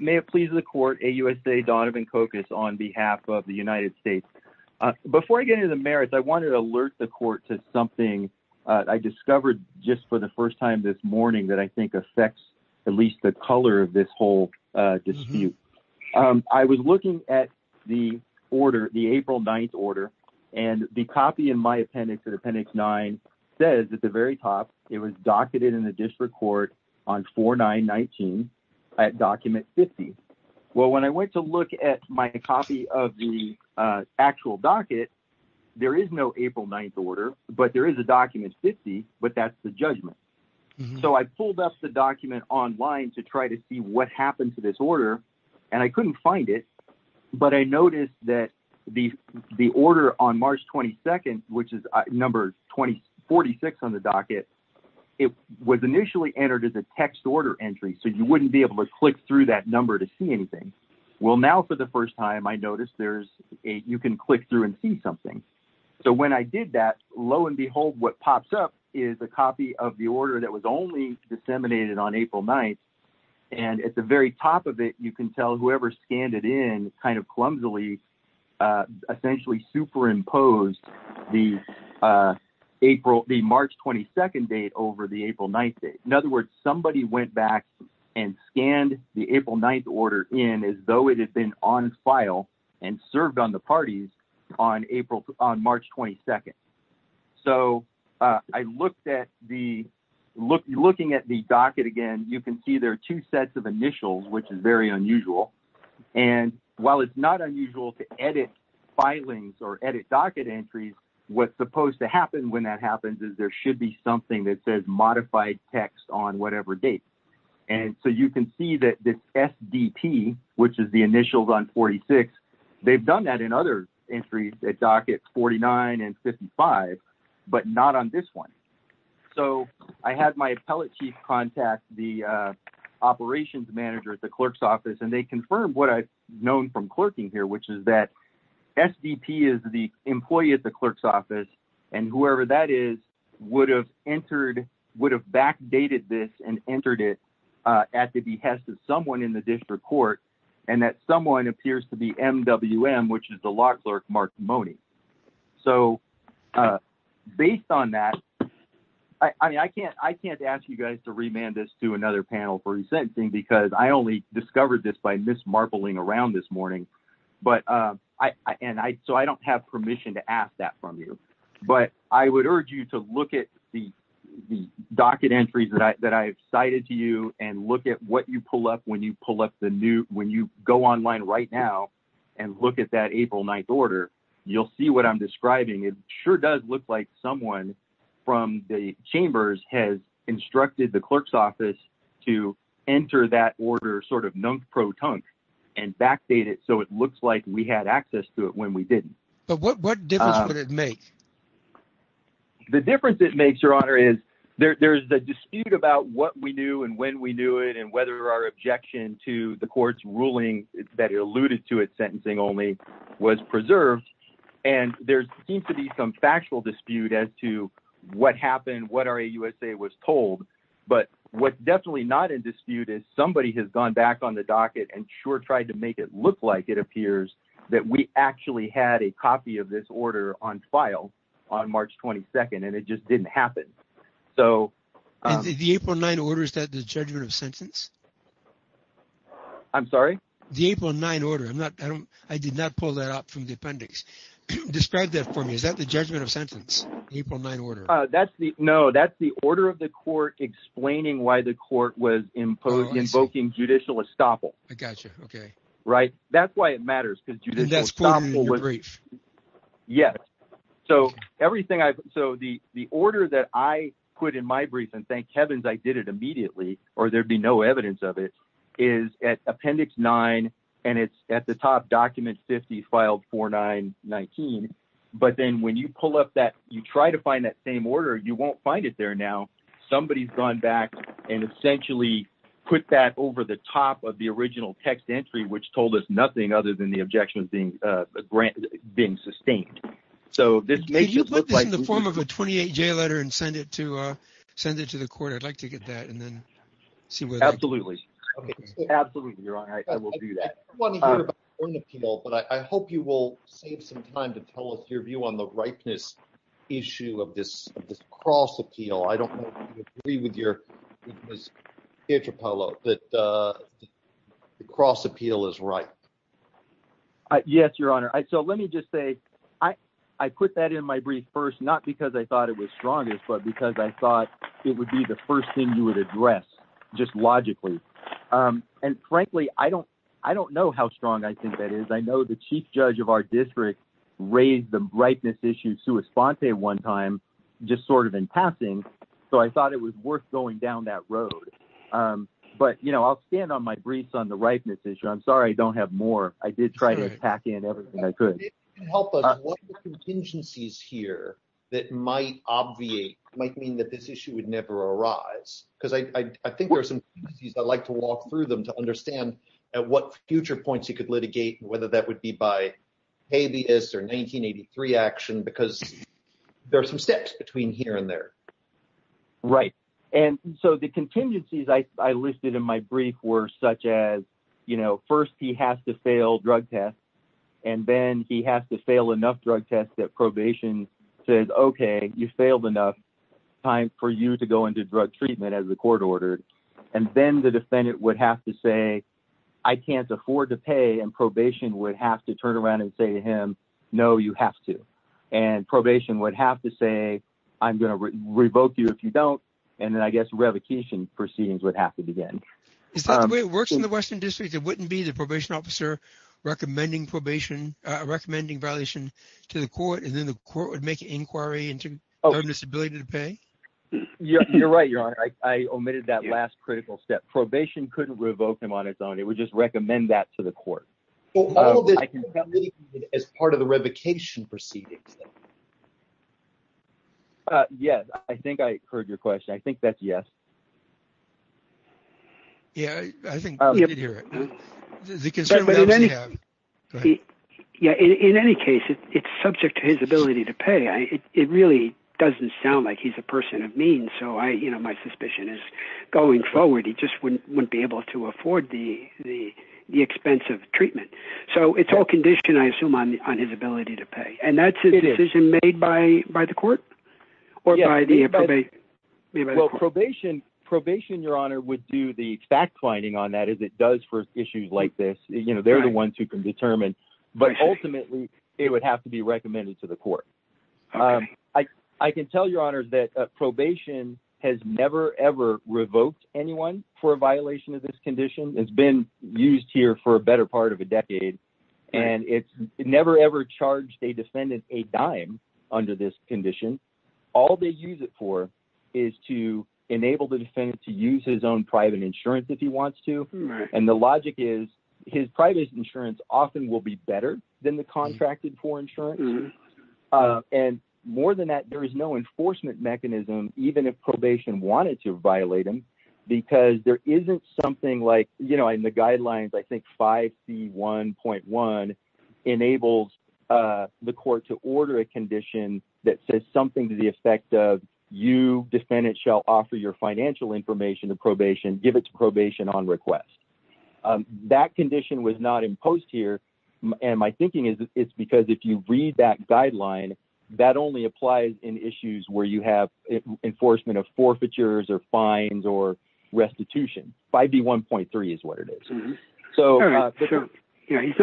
May it please the court, AUSA Donovan Kokus on behalf of the United States. Before I get into the merits, I wanted to alert the court to something I discovered just for the first time this morning that I think affects at least the color of this whole dispute. I was looking at the order, the April 9th order, and the copy in my appendix, in appendix nine says at the very top it was docketed in the district court on 4-9-19 at document 50. Well, when I went to look at my copy of the actual docket, there is no April 9th order, but there is a document 50, but that's the judgment. So I pulled up the document online to try to see what happened to this order, and I on the docket, it was initially entered as a text order entry, so you wouldn't be able to click through that number to see anything. Well, now for the first time, I noticed there's a, you can click through and see something. So when I did that, lo and behold, what pops up is a copy of the order that was only disseminated on April 9th, and at the very top of it, you can tell whoever scanned it in kind of clumsily essentially superimposed the March 22nd date over the April 9th date. In other words, somebody went back and scanned the April 9th order in as though it had been on file and served on the parties on March 22nd. So I looked at the, looking at the docket again, you can see there are two sets of initials, which is very unusual. And while it's not unusual to edit filings or edit docket entries, what's supposed to happen when that happens is there should be something that says modified text on whatever date. And so you can see that this SDP, which is the initials on 46, they've done that in other entries at dockets 49 and 55, but not on this one. So I had my appellate chief contact the operations manager at the clerk's office, and they confirmed what I've known from clerking here, which is that SDP is the employee at the clerk's office. And whoever that is would have entered, would have backdated this and entered it at the behest of someone in the district court. And that someone appears to be MWM, which is the law clerk, Mark Mone. So based on that, I mean, I can't, I can't ask you guys to remand this to another panel for resentencing because I only discovered this by miss marbling around this morning. But I, and I, so I don't have permission to ask that from you, but I would urge you to look at the docket entries that I, that I've cited to you and look at what you pull up when you pull up the new, when you go online right now and look at that April 9th order, you'll see what I'm describing. It sure does look like someone from the chambers has instructed the clerk's office to enter that order sort of non-pro-tunk and backdate it. So it looks like we had access to it when we didn't. But what difference would it make? The difference it makes your honor is there, there's the dispute about what we knew and when we knew it and whether our objection to the court's ruling that alluded to it sentencing only was preserved. And there seems to be some factual dispute as to what happened, what our AUSA was told. But what's definitely not in dispute is somebody has gone back on the docket and sure tried to make it look like it appears that we actually had a copy of this order on file on March 22nd and it just didn't happen. So the April 9th order, is that the judgment of sentence? I'm sorry? The April 9th order, I did not pull that up from the appendix. Describe that for me. Is that the judgment of sentence? The April 9th order? That's the, no, that's the order of the court explaining why the court was invoking judicial estoppel. I gotcha. Okay. Right? That's why it matters. And that's quoted in your brief. Yes. So everything I've, so the order that I put in my brief and thank heavens I did it immediately or there'd be no evidence of it, is at appendix 9 and it's at the top, document 50, file 4-9-19. But then when you pull up that, you try to find that same order, you won't find it there now. Somebody's gone back and essentially put that over the top of the original text entry, which told us nothing other than the objections being sustained. So this makes it look like- Can you put this in the form of a 28-J letter and send it to, send it to the court? I'd like to get that and then see where that goes. Absolutely. Okay. Absolutely, Your Honor. I will do that. I don't want to hear about your own appeal, but I hope you will save some time to tell us your view on the ripeness issue of this, of this cross appeal. I don't know if you agree with your, with Ms. Pietropoulos, that the cross appeal is ripe. Yes, Your Honor. So let me just say, I put that in my brief first, not because I thought it was strongest, but because I thought it would be the first thing you would address just logically. And frankly, I don't, I don't know how strong I think that is. I know the chief judge of our district raised the ripeness issue sua sponte one time, just sort of in passing. So I thought it was worth going down that road. But you know, I'll stand on my briefs on the ripeness issue. I'm sorry I don't have more. I did try to pack in everything I could. If you can help us, what are the contingencies here that might obviate, might mean that this issue would never arise? Because I think there are some things I'd like to walk through them to understand at what future points you could litigate, whether that would be by habeas or 1983 action, because there are some steps between here and there. Right. And so the contingencies I listed in my brief were such as, you know, first he has to fail drug tests and then he has to fail enough drug tests that probation says, OK, you failed enough time for you to go into drug treatment as the court ordered. And then the defendant would have to say, I can't afford to pay. And probation would have to turn around and say to him, no, you have to. And probation would have to say, I'm going to revoke you if you don't. And then I guess revocation proceedings would have to begin. It's not the way it works in the Western District, it wouldn't be the probation officer recommending probation, recommending violation to the court, and then the court would make an inquiry into this ability to pay. You're right. You're right. I omitted that last critical step. Probation couldn't revoke him on its own. It would just recommend that to the court. Well, I can tell you as part of the revocation proceedings. Yes, I think I heard your question. I think that's yes. Yeah, I think we did hear it. But in any case, it's subject to his ability to pay. It really doesn't sound like he's a person of means. So my suspicion is going forward, he just wouldn't be able to afford the expense of treatment. So it's all conditioned, I assume, on his ability to pay. And that's a decision made by the court? Or by the probation? Well, probation, probation, Your Honor, would do the fact finding on that, as it does for issues like this. You know, they're the ones who can determine. But ultimately, it would have to be recommended to the court. I can tell Your Honor that probation has never, ever revoked anyone for a violation of this condition. It's been used here for a better part of a decade. And it's never, ever charged a defendant a dime under this condition. All they use it for is to enable the defendant to use his own private insurance if he wants to. And the logic is, his private insurance often will be better than the contracted for insurance. And more than that, there is no enforcement mechanism, even if probation wanted to violate them. Because there isn't something like, you know, in the guidelines, I think 5C1.1 enables the court to order a condition that says something to the effect of, you, defendant, shall offer your financial information to probation, give it to probation on request. That condition was not imposed here. And my thinking is, it's because if you read that guideline, that only applies in issues where you have enforcement of forfeitures or fines or restitution. 5B1.3 is what it is. So he's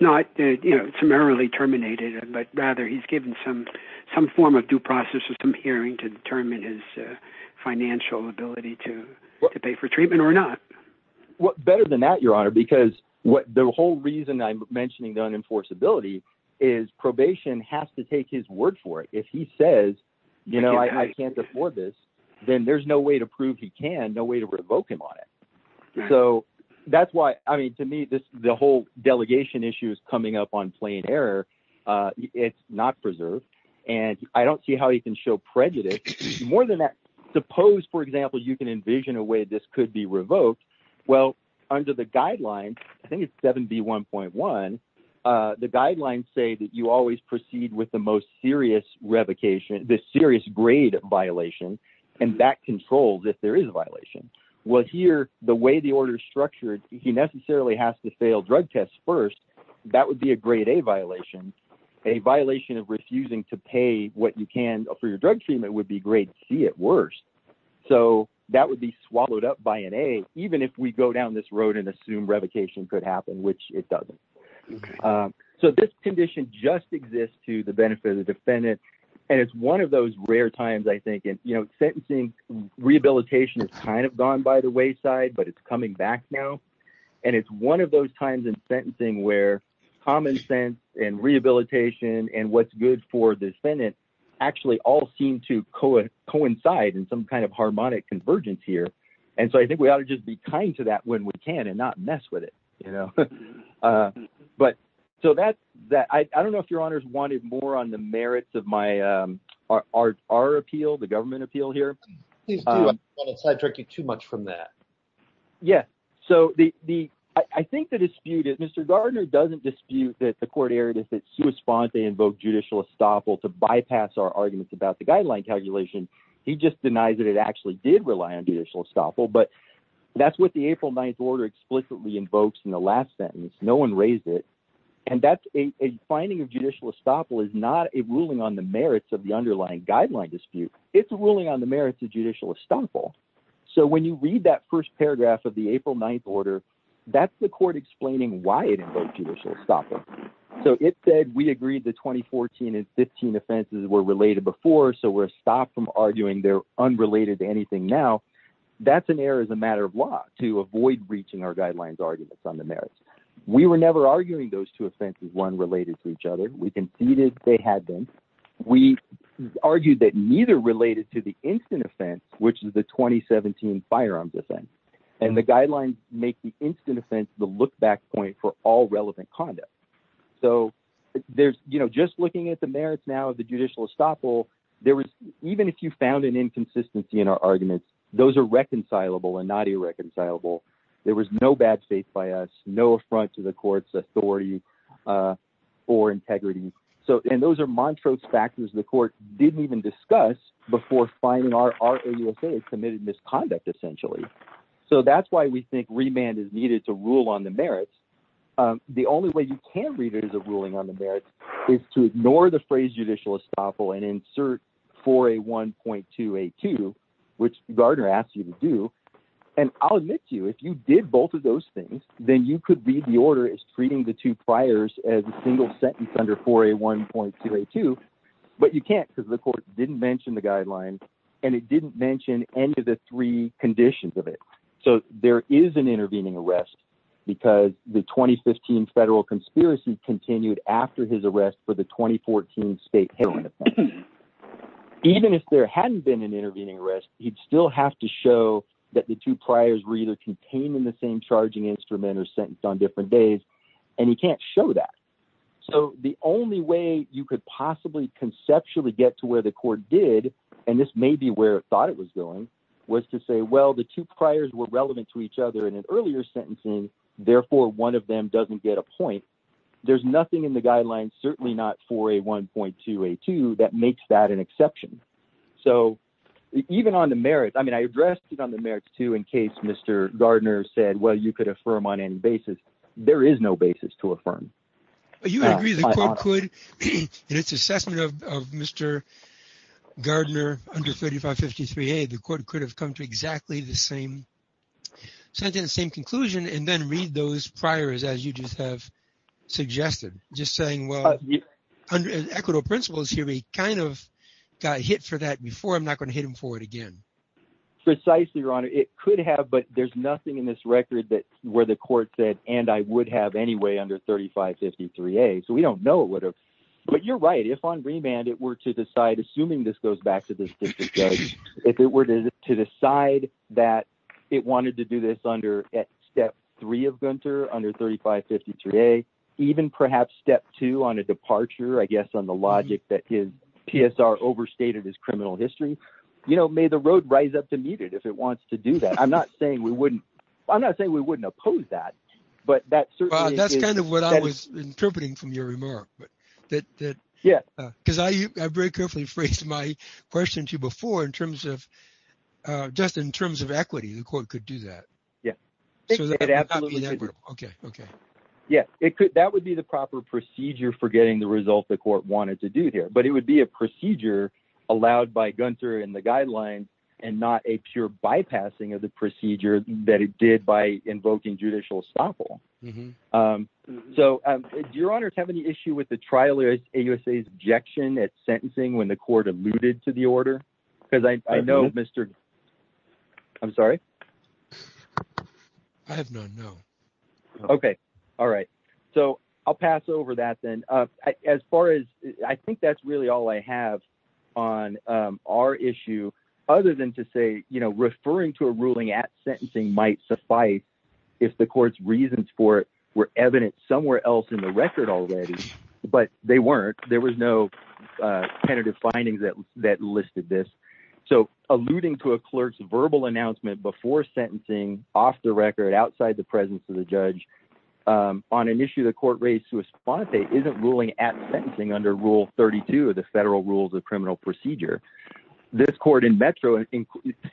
not, you know, summarily terminated, but rather he's given some some form of due process or some hearing to determine his financial ability to pay for treatment or not. Better than that, Your Honor, because what the whole reason I'm mentioning the unenforceability is probation has to take his word for it. If he says, you know, I can't afford this, then there's no way to prove he can, no way to revoke him on it. So that's why I mean, to me, this the whole delegation issue is coming up on plain error. It's not preserved. And I don't see how he can show prejudice. More than that, suppose, for example, you can envision a way this could be revoked. Well, under the guidelines, I think it's 7B1.1, the guidelines say that you always proceed with the most serious revocation, the serious grade violation, and that controls if there is a violation. Well, here, the way the order is structured, he necessarily has to fail drug tests first. That would be a grade A violation, a violation of refusing to pay what you can for your drug treatment would be grade C at worst. So that would be swallowed up by an A, even if we go down this road and assume revocation could happen, which it doesn't. So this condition just exists to the benefit of the defendant. And it's one of those rare times, I think, and, you know, sentencing rehabilitation is kind of gone by the wayside, but it's coming back now. And it's one of those times in sentencing where common sense and rehabilitation and what's good for the defendant actually all seem to coincide in some kind of harmonic convergence here. And so I think we ought to just be kind to that when we can and not mess with it. You know, but so that that I don't know if your honors wanted more on the merits of my our appeal, the government appeal here. Please do, I don't want to sidetrack you too much from that. Yes. So the I think the dispute is Mr. Gardner doesn't dispute that the court erred if it's to respond, they invoke judicial estoppel to bypass our arguments about the guideline calculation. He just denies that it actually did rely on judicial estoppel. But that's what the April 9th order explicitly invokes in the last sentence. No one raised it. And that's a finding of judicial estoppel is not a ruling on the merits of the underlying guideline dispute. It's a ruling on the merits of judicial estoppel. So when you read that first paragraph of the April 9th order, that's the court explaining why it invoked judicial estoppel. So it said we agreed the 2014 and 15 offenses were related before. So we're stopped from arguing they're unrelated to anything now. That's an error as a matter of law to avoid breaching our guidelines arguments on the merits. We were never arguing those two offenses, one related to each other. We conceded they had them. We argued that neither related to the instant offense, which is the 2017 firearms offense. And the guidelines make the instant offense the look back point for all relevant conduct. So there's, you know, just looking at the merits now of the judicial estoppel, there was even if you found an inconsistency in our arguments, those are reconcilable and not irreconcilable. There was no bad faith by us, no affront to the court's authority or integrity. So and those are Montrose factors the court didn't even discuss before finding our committed misconduct, essentially. So that's why we think remand is needed to rule on the merits. The only way you can read it as a ruling on the merits is to ignore the phrase judicial estoppel and insert for a one point to a two, which Gardner asked you to do. And I'll admit to you, if you did both of those things, then you could be the order is treating the two priors as a single sentence under for a one point to a two. But you can't because the court didn't mention the guidelines and it didn't mention any of the three conditions of it. So there is an intervening arrest because the 2015 federal conspiracy continued after his arrest for the 2014 state hearing. Even if there hadn't been an intervening arrest, he'd still have to show that the two priors were either contained in the same charging instrument or sentenced on different days. And he can't show that. So the only way you could possibly conceptually get to where the court did, and this may be where it thought it was going, was to say, well, the two priors were relevant to each other in an earlier sentencing. Therefore, one of them doesn't get a point. There's nothing in the guidelines, certainly not for a one point to a two. That makes that an exception. So even on the merits, I mean, I addressed it on the merits, too, in case Mr. Gardner said, well, you could affirm on any basis. There is no basis to affirm. You agree the court could, in its assessment of Mr. Gardner under 3553A, the court could have come to exactly the same sentence, the same conclusion, and then read those priors as you just have suggested. Just saying, well, under equitable principles here, he kind of got hit for that before. I'm not going to hit him for it again. Precisely, Your Honor. It could have. But there's nothing in this record that where the court said, and I would have anyway under 3553A, so we don't know what. But you're right. If on remand it were to decide, assuming this goes back to this district judge, if it were to decide that it wanted to do this under step three of Gunter under 3553A, even perhaps step two on a departure, I guess, on the logic that his PSR overstated his criminal history. You know, may the road rise up to meet it if it wants to do that. I'm not saying we wouldn't I'm not saying we wouldn't oppose that. But that's certainly that's kind of what I was interpreting from your remark. But that. Yeah. Because I very carefully phrased my question to you before in terms of just in terms of equity, the court could do that. Yeah. OK, OK. Yeah, it could. That would be the proper procedure for getting the result the court wanted to do here. But it would be a procedure allowed by Gunter in the guidelines and not a pure bypassing of the procedure that it did by invoking judicial estoppel. So, your Honor, is having the issue with the trial is a USA's objection at sentencing when the court alluded to the order? Because I know, Mr. I'm sorry. I have no no. OK. All right. So I'll pass over that then, as far as I think that's really all I have on our issue, other than to say, you know, referring to a ruling at sentencing might suffice if the court's reasons for it were evident somewhere else in the record already. But they weren't. There was no tentative findings that that listed this. So alluding to a clerk's verbal announcement before sentencing off the record, outside the presence of the judge on an issue, the court raised to a spot that isn't ruling at sentencing under Rule 32 of the federal rules of criminal procedure. This court in Metro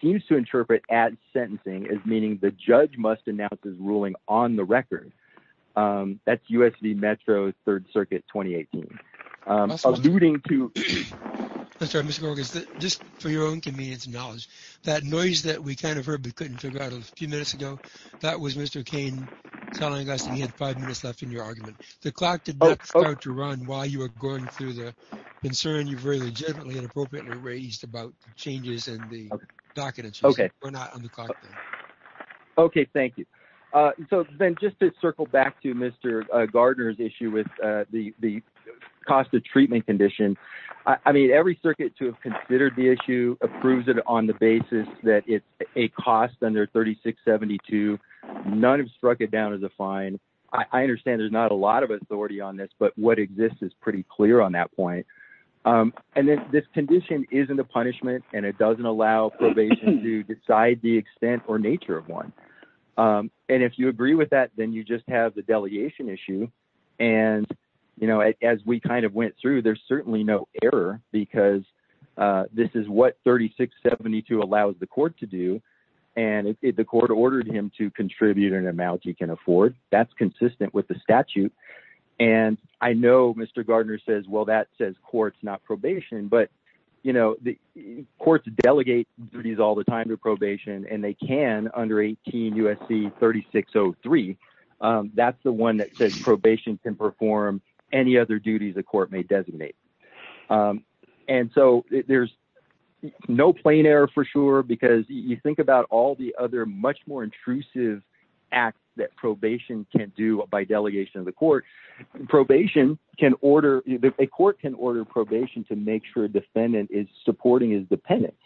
seems to interpret at sentencing as meaning the judge must announce his ruling on the record. That's U.S. Metro's Third Circuit, 2018, alluding to Mr. Mr. Gorgas, just for your own convenience and knowledge, that noise that we kind of heard, we couldn't figure out a few minutes ago. That was Mr. Kane telling us he had five minutes left in your argument. The clock did not start to run while you were going through the concern. You've really generally and appropriately raised about changes in the documents. OK, we're not on the clock. OK, thank you. So then just to circle back to Mr. Gardner's issue with the cost of treatment condition, I mean, every circuit to have considered the issue approves it on the basis that it's a cost under 3672. None have struck it down as a fine. I understand there's not a lot of authority on this, but what exists is pretty clear on that point. And this condition isn't a punishment and it doesn't allow probation to decide the extent or nature of one. And if you agree with that, then you just have the delegation issue. And, you know, as we kind of went through, there's certainly no error because this is what 3672 allows the court to do. And the court ordered him to contribute an amount he can afford. That's consistent with the statute. And I know Mr. Gardner says, well, that says courts, not probation. But, you know, the courts delegate duties all the time to probation and they can under 18 USC 3603. That's the one that says probation can perform any other duties a court may designate. And so there's no plain error for sure, because you think about all the other much more probation can order a court can order probation to make sure a defendant is supporting his dependents.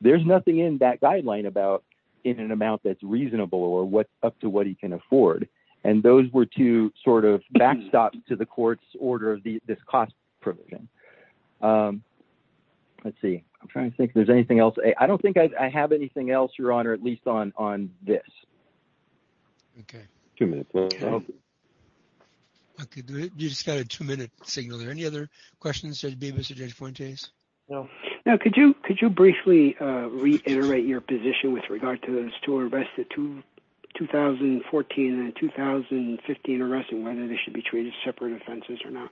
There's nothing in that guideline about in an amount that's reasonable or what up to what he can afford. And those were two sort of backstops to the court's order of this cost provision. Let's see. I'm trying to think if there's anything else. I don't think I have anything else, Your Honor, at least on on this. OK, two minutes. I could do it. You just got a two minute signal there. Any other questions? There's been a suggestion for days. No, no. Could you could you briefly reiterate your position with regard to those two arrested to 2014 and 2015 arresting whether they should be treated as separate offenses or not?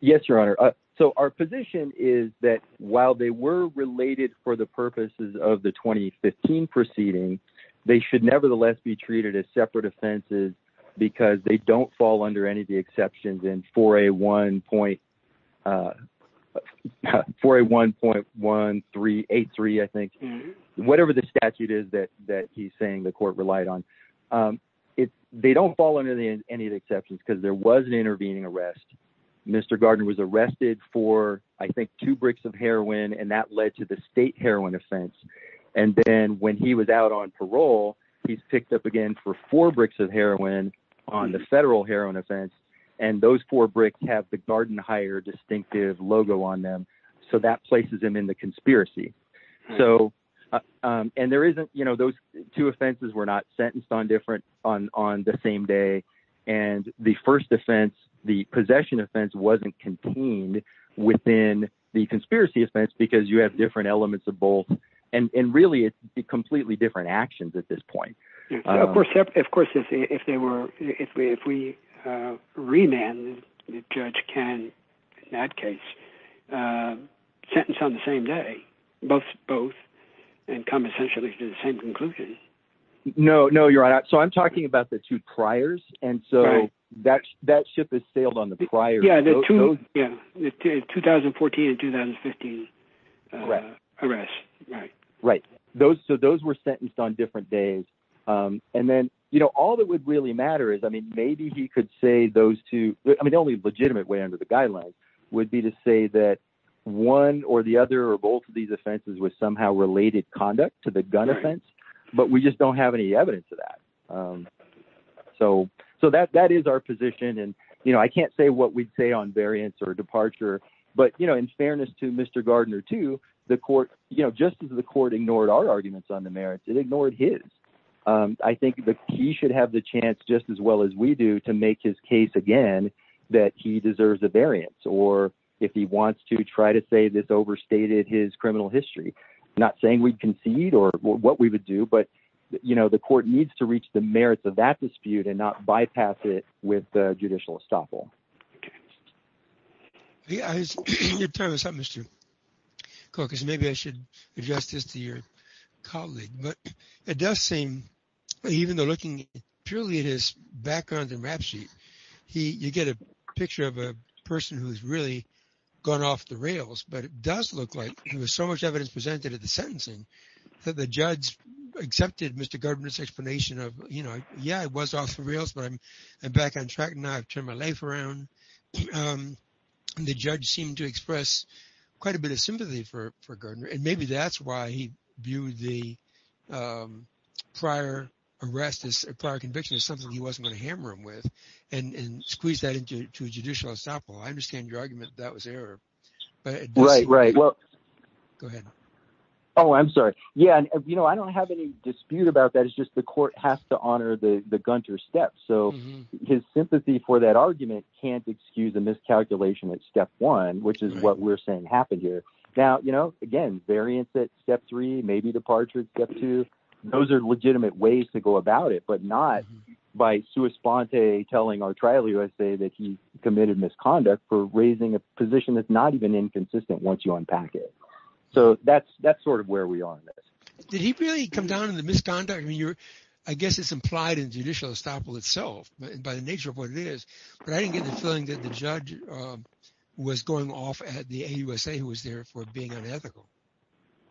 Yes, Your Honor. So our position is that while they were related for the purposes of the 2015 proceeding, they should nevertheless be treated as separate offenses because they don't fall under any of the exceptions in for a one point for a one point one three eight three, I think, whatever the statute is that that he's saying the court relied on it. They don't fall under any of the exceptions because there was an intervening arrest. Mr. Gardner was arrested for, I think, two bricks of heroin, and that led to the state heroin offense. And then when he was out on parole, he's picked up again for four bricks of heroin on the federal heroin offense. And those four bricks have the garden hire distinctive logo on them. So that places him in the conspiracy. So and there isn't you know, those two offenses were not sentenced on different on the same day. And the first offense, the possession offense wasn't contained within the conspiracy offense because you have different elements of both. And really, it's completely different actions at this point. Of course, of course, if they were if we if we remand the judge can in that case sentence on the same day, both both and come essentially to the same conclusion. No, no, you're right. So I'm talking about the two priors. And so that's that ship has sailed on the prior. Yeah. 2014 and 2015 arrest. Right, right. Those so those were sentenced on different days. And then, you know, all that would really matter is, I mean, maybe he could say those two. I mean, the only legitimate way under the guidelines would be to say that one or the other or both of these offenses was somehow related conduct to the gun offense. But we just don't have any evidence of that. So so that that is our position. And, you know, I can't say what we'd say on variance or departure. But, you know, in fairness to Mr. Gardner to the court, you know, just as the court ignored our arguments on the merits, it ignored his. I think he should have the chance just as well as we do to make his case again that he deserves a variance or if he wants to try to say this overstated his criminal history, not saying we'd concede or what we would do. But, you know, the court needs to reach the merits of that dispute and not bypass it with the judicial estoppel. OK. Yeah, I was telling Mr. Cook is maybe I should adjust this to your colleague. But it does seem even though looking purely at his background and rap sheet, he you get a picture of a person who's really gone off the rails. But it does look like there was so much evidence presented at the sentencing that the judge accepted Mr. Gardner's explanation of, you know, yeah, it was off the rails. But I'm back on track now. I've turned my life around. The judge seemed to express quite a bit of sympathy for Gardner. And maybe that's why he viewed the prior arrest as a prior conviction is something he wasn't going to hammer him with and squeeze that into a judicial estoppel. I understand your argument. That was error. Right, right. Well, go ahead. Oh, I'm sorry. Yeah. You know, I don't have any dispute about that. It's just the court has to honor the Gunter step. So his sympathy for that argument can't excuse a miscalculation at step one, which is what we're saying happened here. Now, you know, again, variance at step three, maybe departure to those are legitimate ways to go about it, but not by sua sponte telling our trial USA that he committed misconduct for raising a position that's not even inconsistent once you unpack it. So that's that's sort of where we are in this. Did he really come down to the misconduct? I mean, you're I guess it's implied in judicial estoppel itself by the nature of what it is. But I didn't get the feeling that the judge was going off at the USA who was there for being unethical.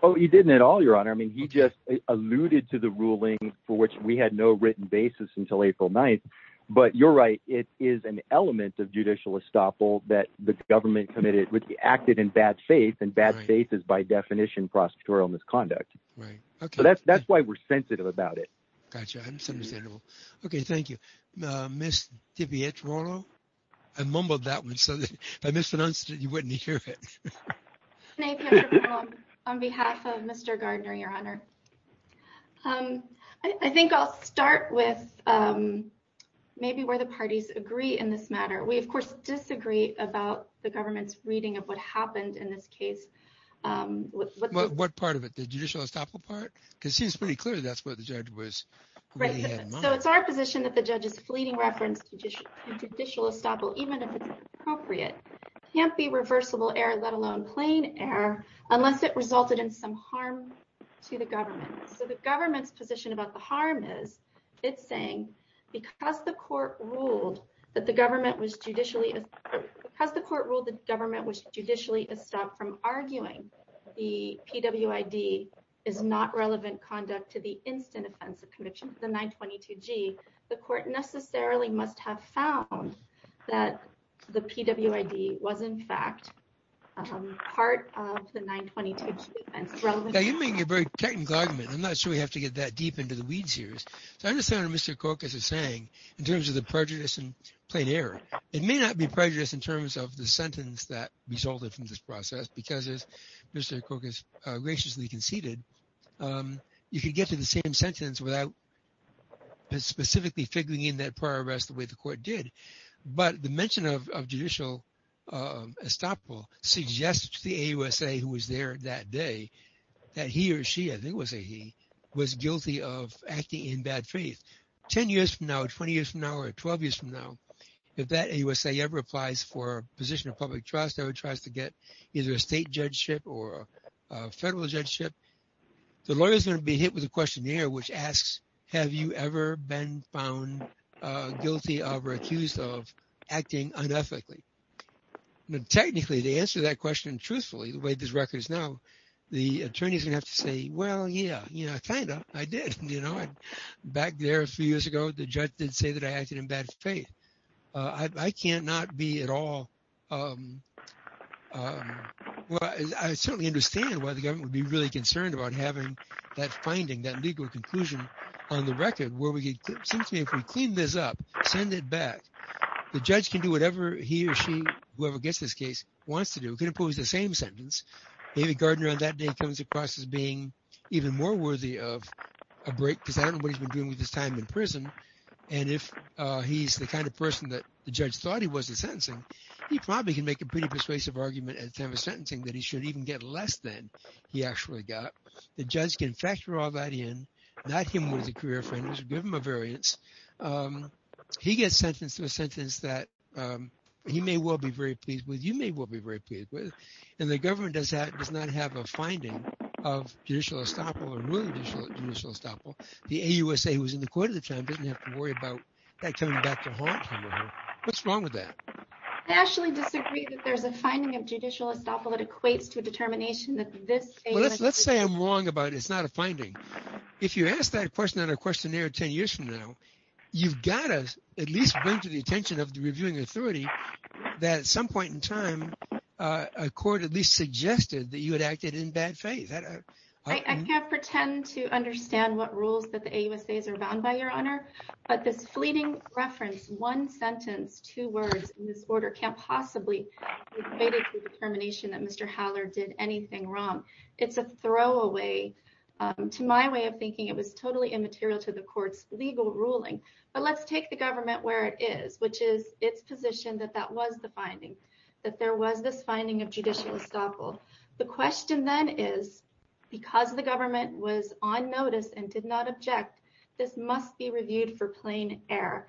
Oh, he didn't at all, your honor. I mean, he just alluded to the ruling for which we had no written basis until April 9th. But you're right. It is an element of judicial estoppel that the government committed with the acted in bad faith and bad faith is by definition prosecutorial misconduct. Right. OK, that's that's why we're sensitive about it. Gotcha. OK, thank you. Miss Tibbetts. I mumbled that one. So I mispronounced it. You wouldn't hear it. On behalf of Mr. Gardner, your honor. I think I'll start with maybe where the parties agree in this matter. We, of course, disagree about the government's reading of what happened in this case. What part of it? The judicial estoppel part? Because it's pretty clear that's what the judge was. So it's our position that the judge's fleeting reference to judicial estoppel, even if it's appropriate, can't be reversible error, let alone plain error, unless it resulted in some government. So the government's position about the harm is it's saying because the court ruled that the government was judicially because the court ruled the government was judicially estopped from arguing the P.W.I.D. is not relevant conduct to the instant offensive conviction of the 922 G. The court necessarily must have found that the P.W.I.D. was, in fact, part of the 922 Now you're making a very technical argument. I'm not sure we have to get that deep into the weed series. So I understand what Mr. Kokas is saying in terms of the prejudice and plain error. It may not be prejudiced in terms of the sentence that resulted from this process because, as Mr. Kokas graciously conceded, you could get to the same sentence without specifically figuring in that prior arrest the way the court did. But the mention of judicial estoppel suggests to the AUSA who was there that day that he or she, I think it was a he, was guilty of acting in bad faith. Ten years from now, 20 years from now, or 12 years from now, if that AUSA ever applies for a position of public trust, ever tries to get either a state judgeship or a federal judgeship, the lawyer is going to be hit with a questionnaire which asks, have you ever been found guilty of or accused of acting unethically? Technically, to answer that question truthfully, the way this record is now, the attorney is going to have to say, well, yeah, you know, kind of. I did. Back there a few years ago, the judge did say that I acted in bad faith. I can't not be at all. I certainly understand why the government would be really concerned about having that legal conclusion on the record where it seems to me if we clean this up, send it back, the judge can do whatever he or she, whoever gets this case, wants to do. It could impose the same sentence. David Gardner on that day comes across as being even more worthy of a break because I don't know what he's been doing with his time in prison. And if he's the kind of person that the judge thought he was in sentencing, he probably can make a pretty persuasive argument at the time of sentencing that he should even get less than he actually got. The judge can factor all that in. Not him with a career, but give him a variance. He gets sentenced to a sentence that he may well be very pleased with. You may well be very pleased with. And the government does not have a finding of judicial estoppel, the AUSA who was in the court at the time didn't have to worry about that coming back to haunt him or her. What's wrong with that? I actually disagree that there's a finding of judicial estoppel that equates to a determination that this. Let's say I'm wrong about it's not a finding. If you ask that question on a questionnaire 10 years from now, you've got to at least bring to the attention of the reviewing authority that at some point in time, a court at least suggested that you had acted in bad faith. I can't pretend to understand what rules that the AUSAs are bound by your honor, but this fleeting reference, one sentence, two words in this order can't possibly be debated determination that Mr. Haller did anything wrong. It's a throwaway to my way of thinking. It was totally immaterial to the court's legal ruling, but let's take the government where it is, which is its position that that was the finding that there was this finding of judicial estoppel. The question then is because the government was on notice and did not object, this must be reviewed for plain air.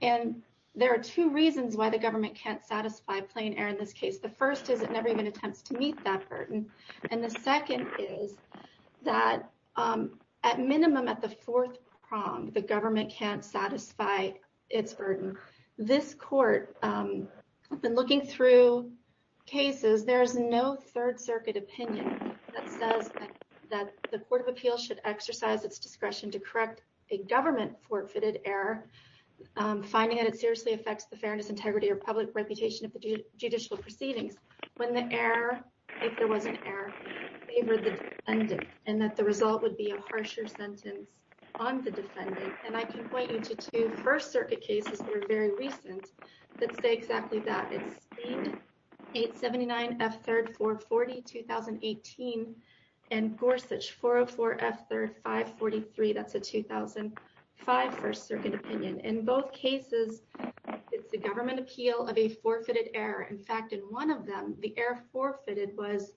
And there are two reasons why the government can't satisfy plain air in this case. The first is it never even attempts to meet that burden. And the second is that at minimum at the fourth prong, the government can't satisfy its burden. This court, I've been looking through cases, there's no third circuit opinion that says that the court of appeal should exercise its discretion to correct a government forfeited error, finding that it seriously affects the fairness, integrity, or public reputation of the judicial proceedings. When the error, if there was an error, favored the defendant, and that the result would be a harsher sentence on the defendant. And I can point you to two first circuit cases that were very recent that say exactly that. It's Speed 879 F3rd 440, 2018, and Gorsuch 404 F3rd 543. That's a 2005 first circuit opinion. In both cases, it's the government appeal of a forfeited error. In fact, in one of them, the error forfeited was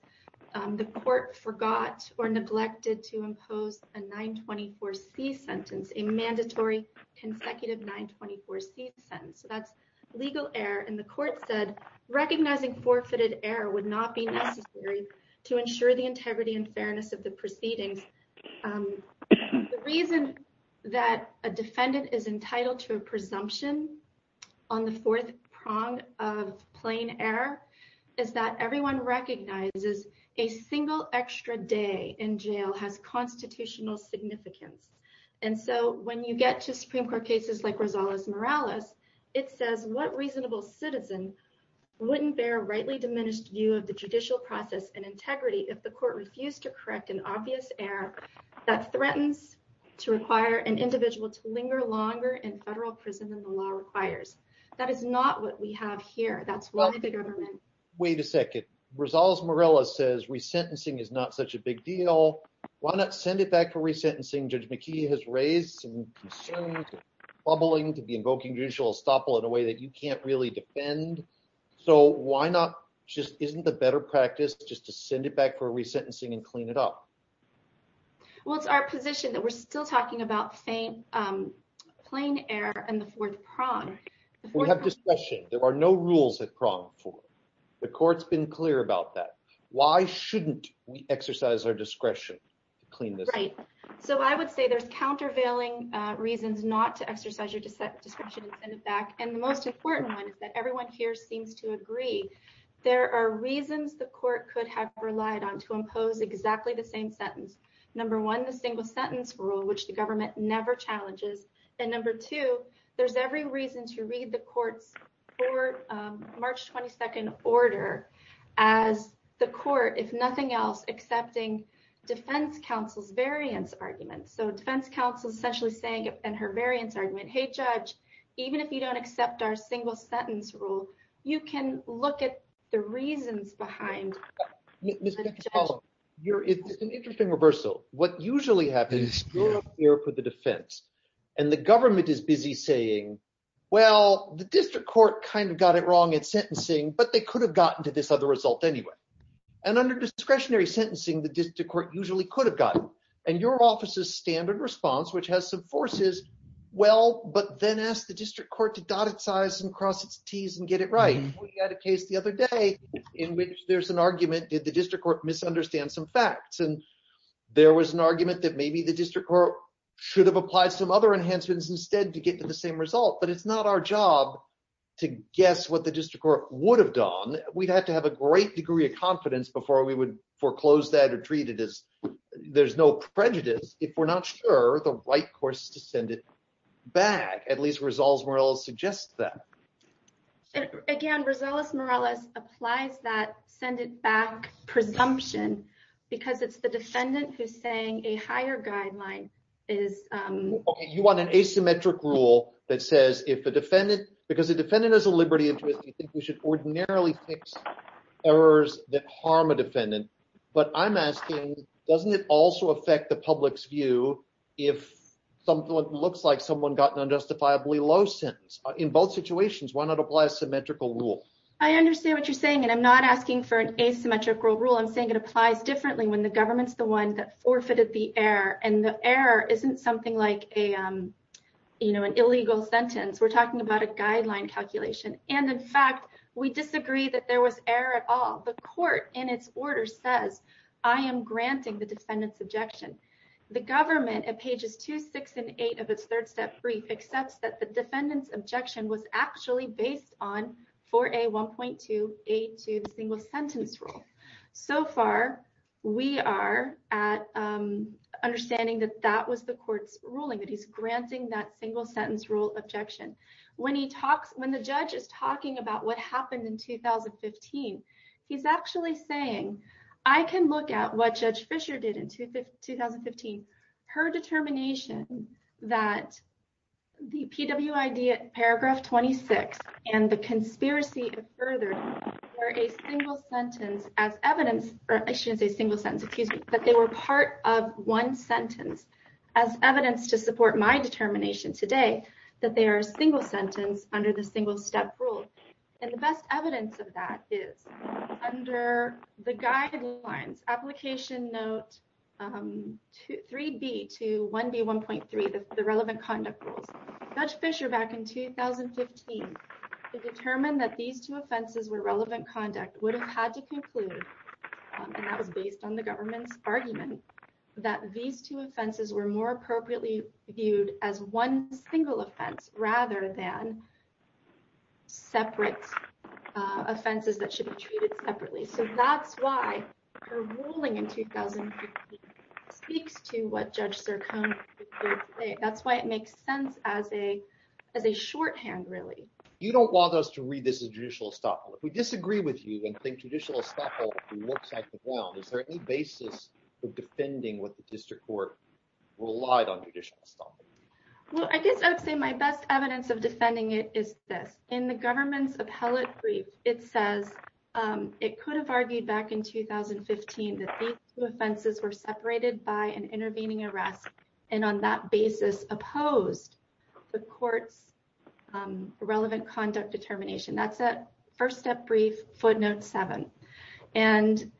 the court forgot or neglected to impose a 924C sentence, a mandatory consecutive 924C sentence. So that's legal error. And the court said, recognizing forfeited error would not be necessary to ensure the integrity and fairness of the proceedings. The reason that a defendant is entitled to a presumption on the fourth prong of plain error is that everyone recognizes a single extra day in jail has constitutional significance. And so when you get to Supreme Court cases like Rosales-Morales, it says, what reasonable citizen wouldn't bear a rightly diminished view of the judicial process and integrity if the court refused to correct an obvious error that threatens to require an individual to linger longer in federal prison than the law requires? That is not what we have here. That's why the government- Wait a second. Rosales-Morales says re-sentencing is not such a big deal. Why not send it back for re-sentencing? Judge McKee has raised some concerns, bubbling to be invoking judicial estoppel in a way that you can't really defend. So why not just, isn't the better practice just to send it back for re-sentencing and clean it up? Well, it's our position that we're still talking about plain error and the fourth prong. We have discretion. There are no rules at prong four. The court's been clear about that. Why shouldn't we exercise our discretion to clean this up? Right. So I would say there's countervailing reasons not to exercise your discretion and send it back for re-sentencing. And I think the court here seems to agree. There are reasons the court could have relied on to impose exactly the same sentence. Number one, the single sentence rule, which the government never challenges. And number two, there's every reason to read the court's March 22nd order as the court, if nothing else, accepting defense counsel's variance argument. So defense counsel is essentially saying, and her variance argument, hey, judge, even if you don't accept our single sentence rule, you can look at the reasons behind- Ms. McFarland, it's an interesting reversal. What usually happens, you're up here for the defense and the government is busy saying, well, the district court kind of got it wrong in sentencing, but they could have gotten to this other result anyway. And under discretionary sentencing, the district court usually could have gotten. And your office's standard response, which has some forces, well, but then ask the district court to dot its I's and cross its T's and get it right. We had a case the other day in which there's an argument, did the district court misunderstand some facts? And there was an argument that maybe the district court should have applied some other enhancements instead to get to the same result, but it's not our job to guess what the district court would have done. We'd have to have a great degree of confidence before we would foreclose that or treat it as there's no prejudice if we're not sure the right course to send it back, at least Rosales-Morales suggests that. And again, Rosales-Morales applies that send it back presumption because it's the defendant who's saying a higher guideline is... Okay. You want an asymmetric rule that says if a defendant, because the defendant has a liberty interest, you think we should ordinarily fix errors that harm a defendant. But I'm asking, doesn't it also affect the public's view if something looks like someone got an unjustifiably low sentence in both situations, why not apply a symmetrical rule? I understand what you're saying. And I'm not asking for an asymmetrical rule. I'm saying it applies differently when the government's the one that forfeited the error and the error isn't something like an illegal sentence. We're talking about a guideline calculation. And in fact, we disagree that there was error at all. The court in its order says, I am granting the defendant's objection. The government at pages two, six, and eight of its third step brief accepts that the defendant's objection was actually based on 4A1.2A2, the single sentence rule. So far, we are at understanding that that was the court's ruling, that he's granting that single sentence rule objection. When the judge is talking about what happened in 2015, he's actually saying, I can look at what Judge Fisher did in 2015. Her determination that the PWID paragraph 26 and the conspiracy of furthering were a single sentence as evidence, or I shouldn't say single sentence, excuse me, but they were part of one sentence as evidence to support my determination today that they are a single sentence under the single step rule. And the best evidence of that is under the guidelines application note 3B to 1B1.3, the relevant conduct rules. Judge Fisher back in 2015 determined that these two offenses were relevant conduct would have had to conclude, and that was based on the government's argument, that these two separate offenses that should be treated separately. So that's why her ruling in 2015 speaks to what Judge Sircone did today. That's why it makes sense as a shorthand, really. You don't want us to read this as judicial estoppel. If we disagree with you and think judicial estoppel looks like the ground, is there any basis for defending what the district court relied on judicial estoppel? Well, I guess I would say my best evidence of defending it is this. In the government's appellate brief, it says it could have argued back in 2015 that these two offenses were separated by an intervening arrest and on that basis opposed the court's relevant conduct determination. That's a first step brief footnote 7. And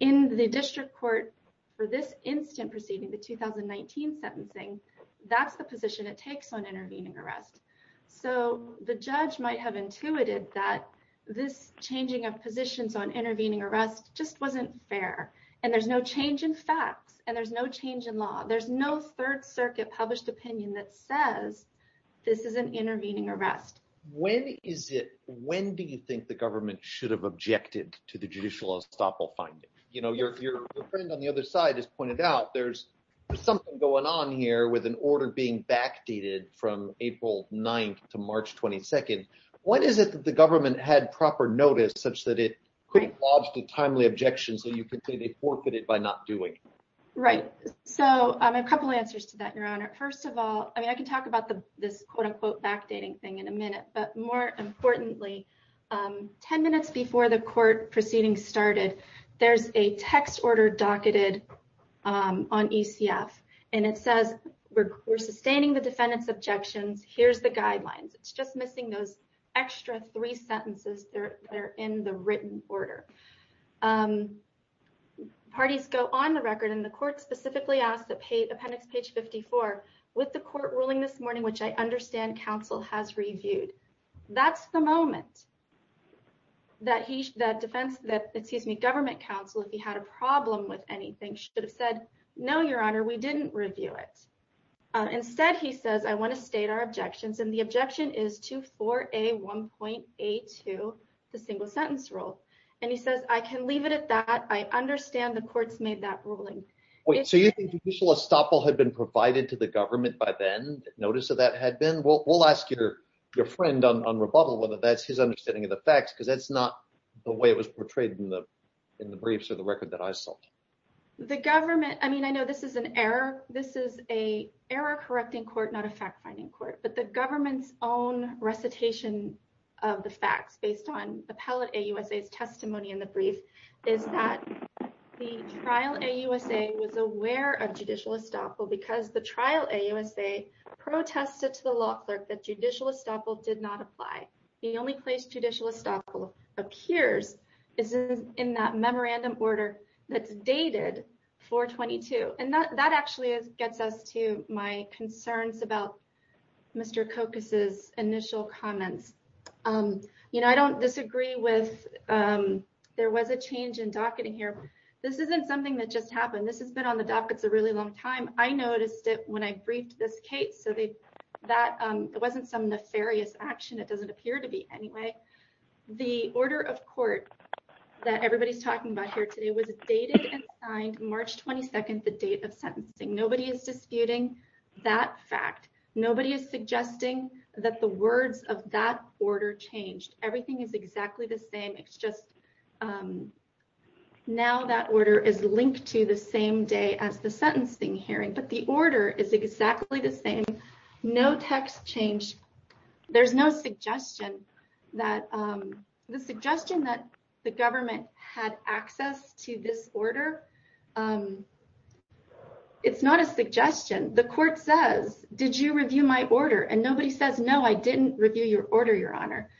in the district court for this instant proceeding, the 2019 sentencing, that's the position it takes on intervening arrest. So the judge might have intuited that this changing of positions on intervening arrest just wasn't fair. And there's no change in facts. And there's no change in law. There's no third circuit published opinion that says this is an intervening arrest. When is it, when do you think the government should have objected to the judicial estoppel finding? You know, your friend on the other side has pointed out there's something going on here with an order being backdated from April 9th to March 22nd. When is it that the government had proper notice such that it couldn't lodge the timely objections that you could say they forfeited by not doing? Right. So I have a couple of answers to that, Your Honor. First of all, I mean, I can talk about this quote unquote backdating thing in a minute, but more importantly, 10 minutes before the court proceeding started, there's a text order docketed on ECF. And it says, we're sustaining the defendant's objections. Here's the guidelines. It's just missing those extra three sentences that are in the written order. Parties go on the record, and the court specifically asked that appendix page 54, with the court ruling this morning, which I understand counsel has reviewed. That's the moment that government counsel, if he had a problem with anything, should have said, no, Your Honor, we didn't review it. Instead, he says, I want to state our objections. And the objection is to 4A1.82, the single sentence rule. And he says, I can leave it at that. I understand the courts made that ruling. So you think judicial estoppel had been provided to the government by then? Notice of that had been? We'll ask your friend on rebuttal whether that's his understanding of the facts, because that's not the way it was portrayed in the briefs or the record that I saw. The government, I mean, I know this is an error. This is an error-correcting court, not a fact-finding court. But the government's own recitation of the facts, based on Appellate AUSA's testimony in the brief, is that the Trial AUSA was aware of judicial estoppel because the Trial AUSA protested to the law clerk that judicial estoppel did not apply. The only place judicial estoppel appears is in that memorandum order that's dated 422. And that actually gets us to my concerns about Mr. Kokas's initial comments. I don't disagree with there was a change in docketing here. This isn't something that just happened. This has been on the dockets a really long time. I noticed it when I briefed this case. So it wasn't some nefarious action. It doesn't appear to be anyway. The order of court that everybody's talking about here today was dated and signed March 22nd, the date of sentencing. Nobody is disputing that fact. Nobody is suggesting that the words of that order changed. Everything is exactly the same. It's just now that order is linked to the same day as the sentencing hearing. But the order is exactly the same. No text change. There's no suggestion that the government had access to this order. It's not a suggestion. The court says, did you review my order? And nobody says, no, I didn't review your order, Your Honor.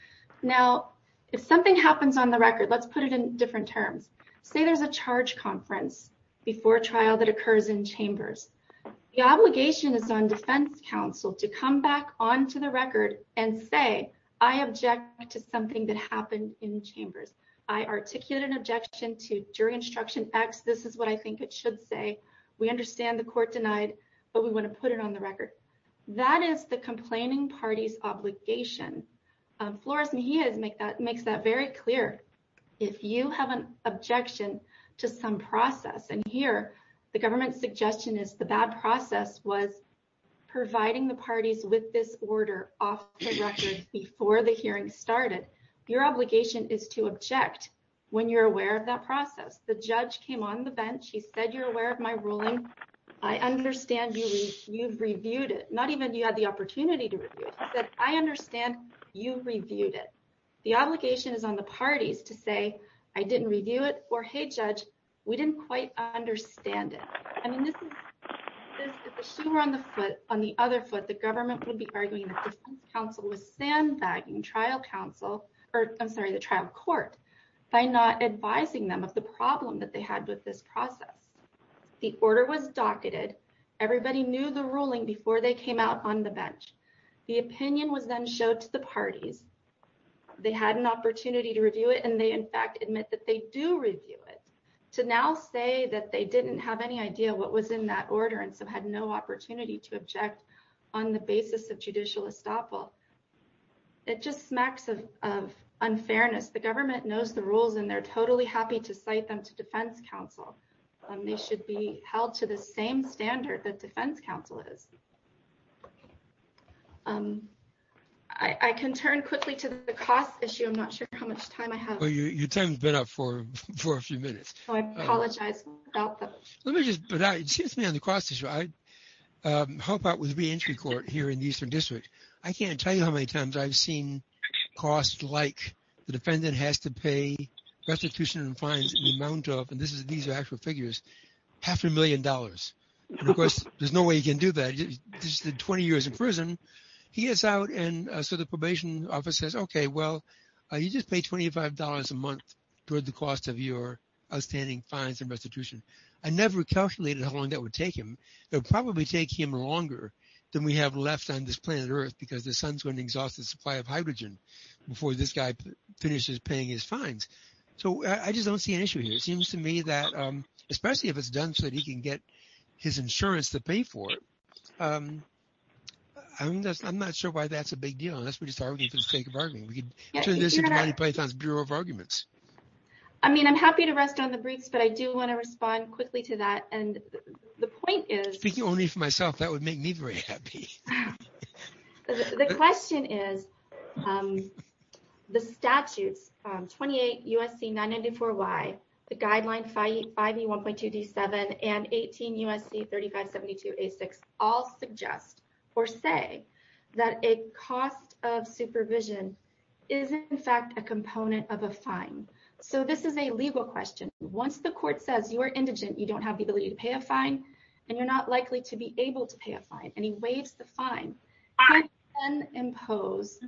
Now, if something happens on the record, let's put it in different terms. Say there's a charge conference before trial that occurs in chambers. The obligation is on defense counsel to come back onto the record and say, I object to something that happened in chambers. I articulate an objection to jury instruction X. This is what I think it should say. We understand the court denied, but we want to put it on the record. That is the complaining party's obligation. Flores-Mejia makes that very clear. If you have an objection to some process, and here the government's suggestion is the bad process was providing the parties with this order off the record before the hearing started, your obligation is to object when you're aware of that process. The judge came on the bench. He said, you're aware of my ruling. I understand you've reviewed it. Not even you had the opportunity to review it. He said, I understand you've reviewed it. The obligation is on the parties to say, I didn't review it, or, hey, judge, we didn't quite understand it. I mean, if the shoe were on the other foot, the government would be arguing defense counsel with sandbagging trial counsel, or I'm sorry, the trial court, by not advising them of the problem that they had with this process. The order was docketed. Everybody knew the ruling before they came out on the bench. The opinion was then showed to the parties. They had an opportunity to review it, and they, in fact, admit that they do review it to now say that they didn't have any idea what was in that order and so had no opportunity to object on the basis of judicial estoppel. It just smacks of unfairness. The government knows the rules, and they're totally happy to cite them to defense counsel. They should be held to the same standard that defense counsel is. I can turn quickly to the cost issue. I'm not sure how much time I have. Well, your time's been up for a few minutes. I apologize about that. Let me just, excuse me on the cost issue. I help out with reentry court here in the Eastern District. I can't tell you how many times I've seen costs like the defendant has to pay restitution and fines in the amount of, and these are actual figures, half a million dollars. Of course, there's no way he can do that. He just did 20 years in prison. He gets out, and so the probation office says, okay, well, you just paid $25 a month toward the cost of your outstanding fines and restitution. I never calculated how long that would take him. It would probably take him longer than we have left on this planet Earth because the sun's going to exhaust the supply of hydrogen before this guy finishes paying his fines. I just don't see an issue here. It seems to me that, especially if it's done so that he can get his insurance to pay for it, I'm not sure why that's a big deal unless we just argue for the sake of arguing. We could turn this into Monty Python's Bureau of Arguments. I mean, I'm happy to rest on the briefs, but I do want to respond quickly to that. The point is- Speaking only for myself, that would make me very happy. The question is, the statutes, 28 U.S.C. 994Y, the guideline 5E1.2D7, and 18 U.S.C. 3572A6 all suggest or say that a cost of supervision is, in fact, a component of a fine. So this is a legal question. Once the court says you are indigent, you don't have the ability to pay a fine, and you're not likely to be able to pay a fine. And he waives the fine. He can impose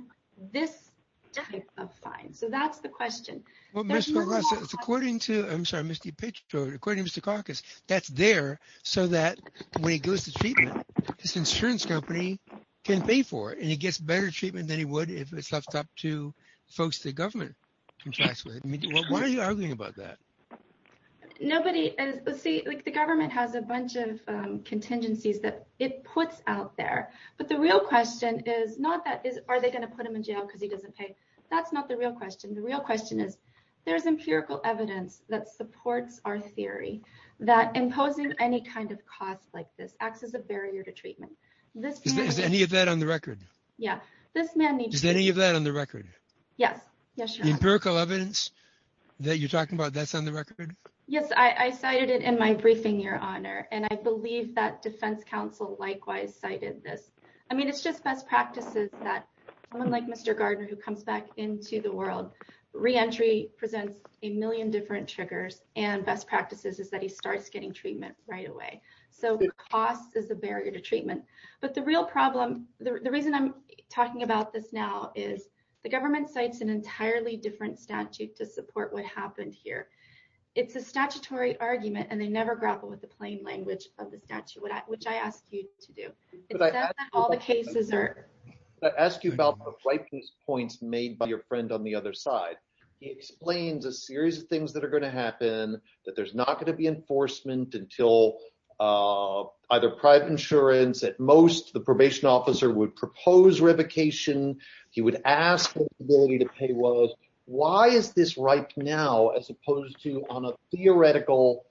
this type of fine. So that's the question. Well, Ms. Villarosa, it's according to- I'm sorry, Mr. Pitchford. According to Mr. Karkas, that's there so that when he goes to treatment, his insurance company can pay for it. And he gets better treatment than he would if it's left up to folks the government contracts with. Why are you arguing about that? Nobody is- See, the government has a bunch of contingencies that it puts out there. But the real question is not that, are they going to put him in jail because he doesn't pay? That's not the real question. The real question is, there's empirical evidence that supports our theory that imposing any kind of cost like this acts as a barrier to treatment. This man- Is any of that on the record? Yeah. This man needs- Is any of that on the record? Yes. Yes, your honor. Yes, I cited it in my briefing, your honor. And I believe that defense counsel likewise cited this. I mean, it's just best practices that someone like Mr. Gardner who comes back into the world, re-entry presents a million different triggers and best practices is that he starts getting treatment right away. So cost is a barrier to treatment. But the real problem, the reason I'm talking about this now is the government cites an entirely different statute to support what happened here. It's a statutory argument and they never grapple with the plain language of the statute, which I asked you to do. All the cases are- But I ask you about the point made by your friend on the other side. He explains a series of things that are going to happen, that there's not going to be enforcement until either private insurance. At most, the probation officer would propose revocation. He would ask what the ability to pay was. Why is this right now, as opposed to on a theoretical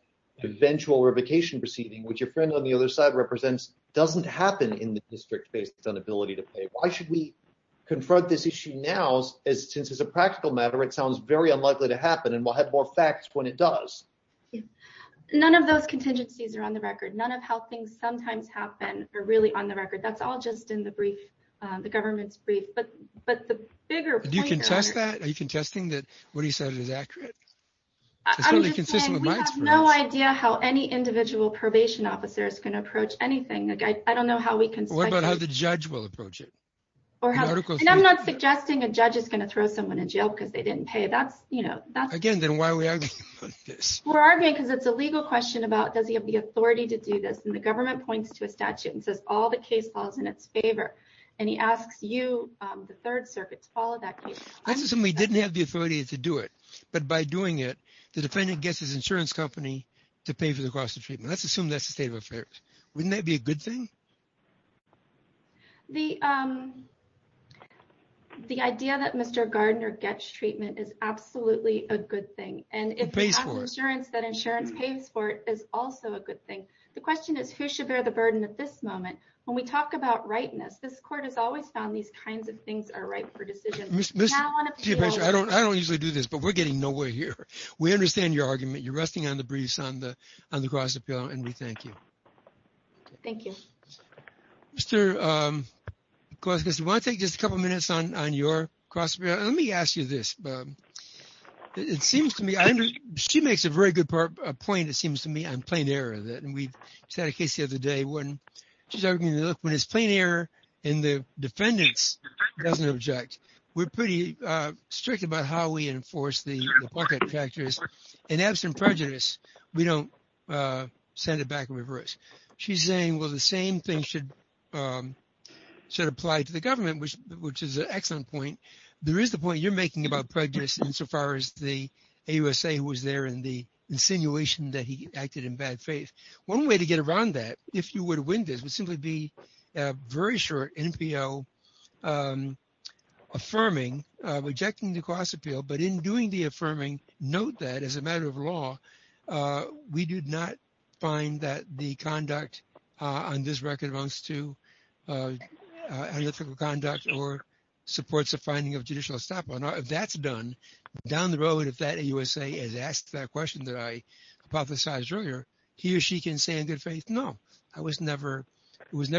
eventual revocation proceeding, which your friend on the other side represents, doesn't happen in the district based on ability to pay? Why should we confront this issue now? Since it's a practical matter, it sounds very unlikely to happen. And we'll have more facts when it does. None of those contingencies are on the record. None of how things sometimes happen are really on the record. That's all just in the government's brief. But the bigger point- Do you contest that? Are you contesting that what he said is accurate? I'm just saying, we have no idea how any individual probation officer is going to approach anything. I don't know how we can- What about how the judge will approach it? And I'm not suggesting a judge is going to throw someone in jail because they didn't pay. Again, then why are we arguing about this? We're arguing because it's a legal question about, does he have the authority to do this? The government points to a statute and says, all the case falls in its favor. And he asks you, the Third Circuit, to follow that case. Let's assume he didn't have the authority to do it. But by doing it, the defendant gets his insurance company to pay for the cost of treatment. Let's assume that's the state of affairs. Wouldn't that be a good thing? The idea that Mr. Gardner gets treatment is absolutely a good thing. And if he has insurance, that insurance pays for it is also a good thing. The question is, who should bear the burden at this moment? When we talk about rightness, this court has always found these kinds of things are right for decisions. Now on appeal- I don't usually do this, but we're getting nowhere here. We understand your argument. You're resting on the breeze on the cross appeal, and we thank you. Thank you. Mr. Glaskis, do you want to take just a couple of minutes on your cross appeal? Let me ask you this. She makes a very good point, it seems to me, on plain error. And we just had a case the other day when she's arguing that, look, when it's plain error and the defendant doesn't object, we're pretty strict about how we enforce the bucket factors. And absent prejudice, we don't send it back in reverse. She's saying, well, the same thing should apply to the government, which is an excellent point. There is the point you're making about prejudice insofar as the AUSA was there and the insinuation that he acted in bad faith. One way to get around that, if you were to win this, would simply be a very short NPO affirming, rejecting the cross appeal. But in doing the affirming, note that as a matter of law, we did not find that the conduct on this record amounts to unethical conduct or supports a finding of judicial estoppel. If that's done, down the road, if that AUSA has asked that question that I hypothesized earlier, he or she can say in good faith, no. It was never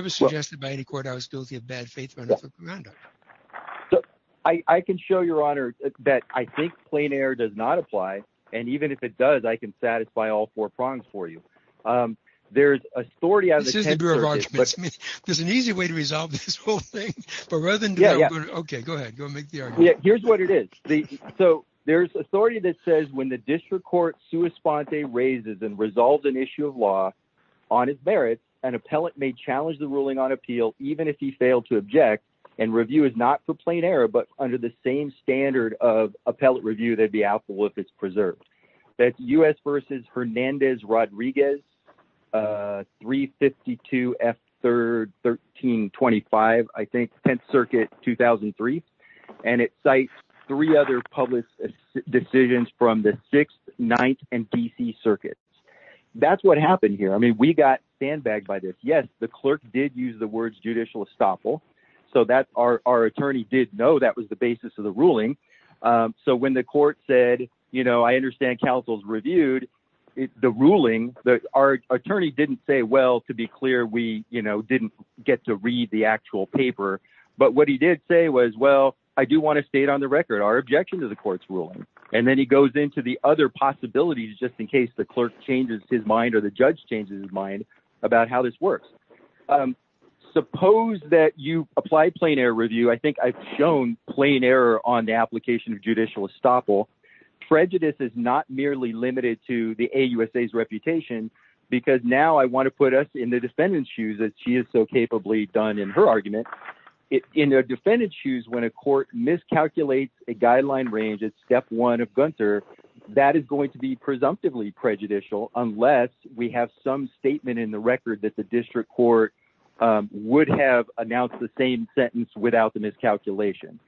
suggested by any court I was guilty of bad faith or unethical conduct. So I can show your honor that I think plain error does not apply. And even if it does, I can satisfy all four prongs for you. There's authority out of the 10 circuits. This is the Bureau of Arguments. There's an easy way to resolve this whole thing. But rather than do that, OK, go ahead. Go make the argument. Here's what it is. So there's authority that says when the district court sua sponte raises and resolves an issue of law on his merits, an appellate may challenge the ruling on appeal, even if he failed to object. And review is not for plain error, but under the same standard of appellate review, they'd be helpful if it's preserved. That's US versus Hernandez Rodriguez 352 F3rd 1325, I think, 10th Circuit 2003. And it cites three other public decisions from the 6th, 9th, and DC circuits. That's what happened here. I mean, we got sandbagged by this. Yes, the clerk did use the words judicial estoppel. So that's our attorney did know that was the basis of the ruling. So when the court said, you know, I understand counsel's reviewed the ruling. Our attorney didn't say, well, to be clear, we didn't get to read the actual paper. But what he did say was, well, I do want to state on the record our objection to the court's ruling. And then he goes into the other possibilities, just in case the clerk changes his mind or the judge changes his mind about how this works. Suppose that you apply plain error review. I think I've shown plain error on the application of judicial estoppel. Prejudice is not merely limited to the AUSA's reputation, because now I want to put us in the defendant's shoes as she is so capably done in her argument. In their defendant's shoes, when a court miscalculates a guideline range at step one of Gunter, that is going to be presumptively prejudicial unless we have some statement in the record that the district court would have announced the same sentence without the miscalculation.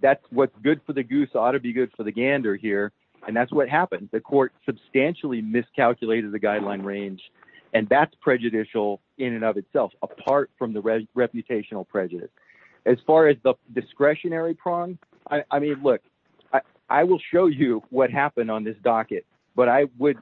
That's what's good for the goose ought to be good for the gander here. And that's what happened. The court substantially miscalculated the guideline range. And that's prejudicial in and of itself, apart from the reputational prejudice. As far as the discretionary prong, I mean, look, I will show you what happened on this docket, but I would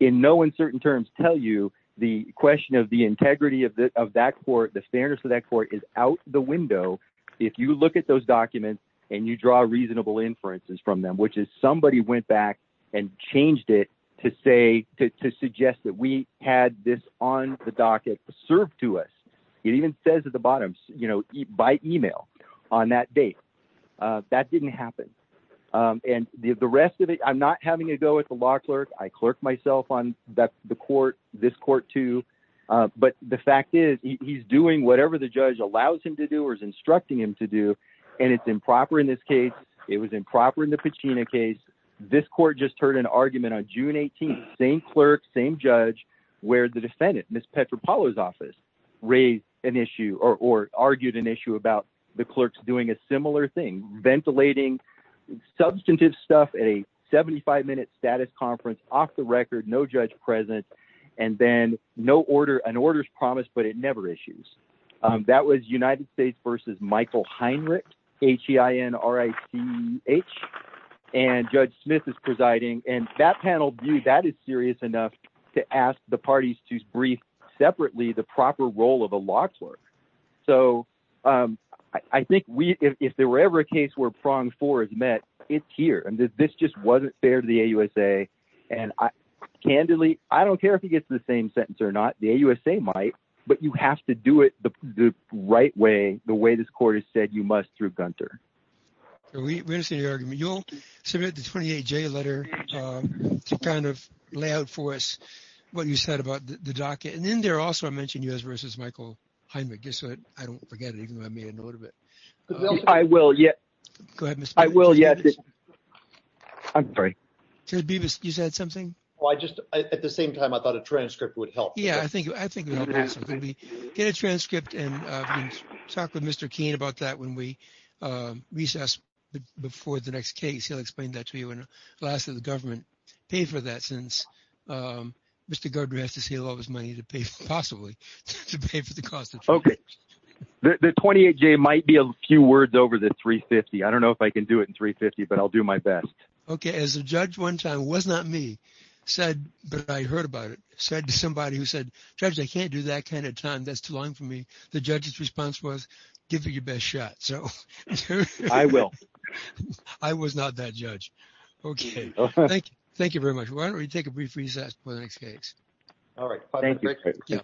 in no uncertain terms tell you the question of the integrity of that court, the fairness of that court is out the window. If you look at those documents and you draw reasonable inferences from them, which is somebody went back and changed it to say, to suggest that we had this on the docket served to us. It even says at the bottom, by email on that date, that didn't happen. And the rest of it, I'm not having a go at the law clerk. I clerk myself on the court, this court too. But the fact is he's doing whatever the judge allows him to do or is instructing him to do. And it's improper in this case. It was improper in the Pacina case. This court just heard an argument on June 18th, same clerk, same judge where the defendant, Ms. Petropalo's office raised an issue or argued an issue about the clerks doing a similar thing, ventilating substantive stuff at a 75 minute status conference off the record, no judge present and then an order's promised, but it never issues. That was United States versus Michael Heinrich, H-E-I-N-R-I-C-H. And Judge Smith is presiding. And that panel view, that is serious enough to ask the parties to brief separately the proper role of a law clerk. So I think if there were ever a case where prong four is met, it's here. And this just wasn't fair to the AUSA. And candidly, I don't care if he gets the same sentence or not, the AUSA might, but you have to do it the right way, the way this court has said you must through Gunter. We understand your argument. You'll submit the 28J letter to kind of lay out for us what you said about the docket. And then there also, I mentioned US versus Michael Heinrich. Guess what? I don't forget it, even though I made a note of it. I will yet. Go ahead, Mr. Beavis. I will yet. I'm sorry. Judge Beavis, you said something? Well, I just, at the same time, I thought a transcript would help. Yeah, I think it would help. Get a transcript and talk with Mr. Keene about that when we recess before the next case, he'll explain that to you. And lastly, the government paid for that since Mr. Godrej has to say a lot of his money to pay for possibly, to pay for the cost. Okay, the 28J might be a few words over the 350. I don't know if I can do it in 350, but I'll do my best. Okay, as a judge one time, it was not me said, but I heard about it, said to somebody who said, Judge, I can't do that kind of time. That's too long for me. The judge's response was, give it your best shot. So I will. I was not that judge. Okay, thank you. Thank you very much. Why don't we take a brief recess for the next case? All right, thank you.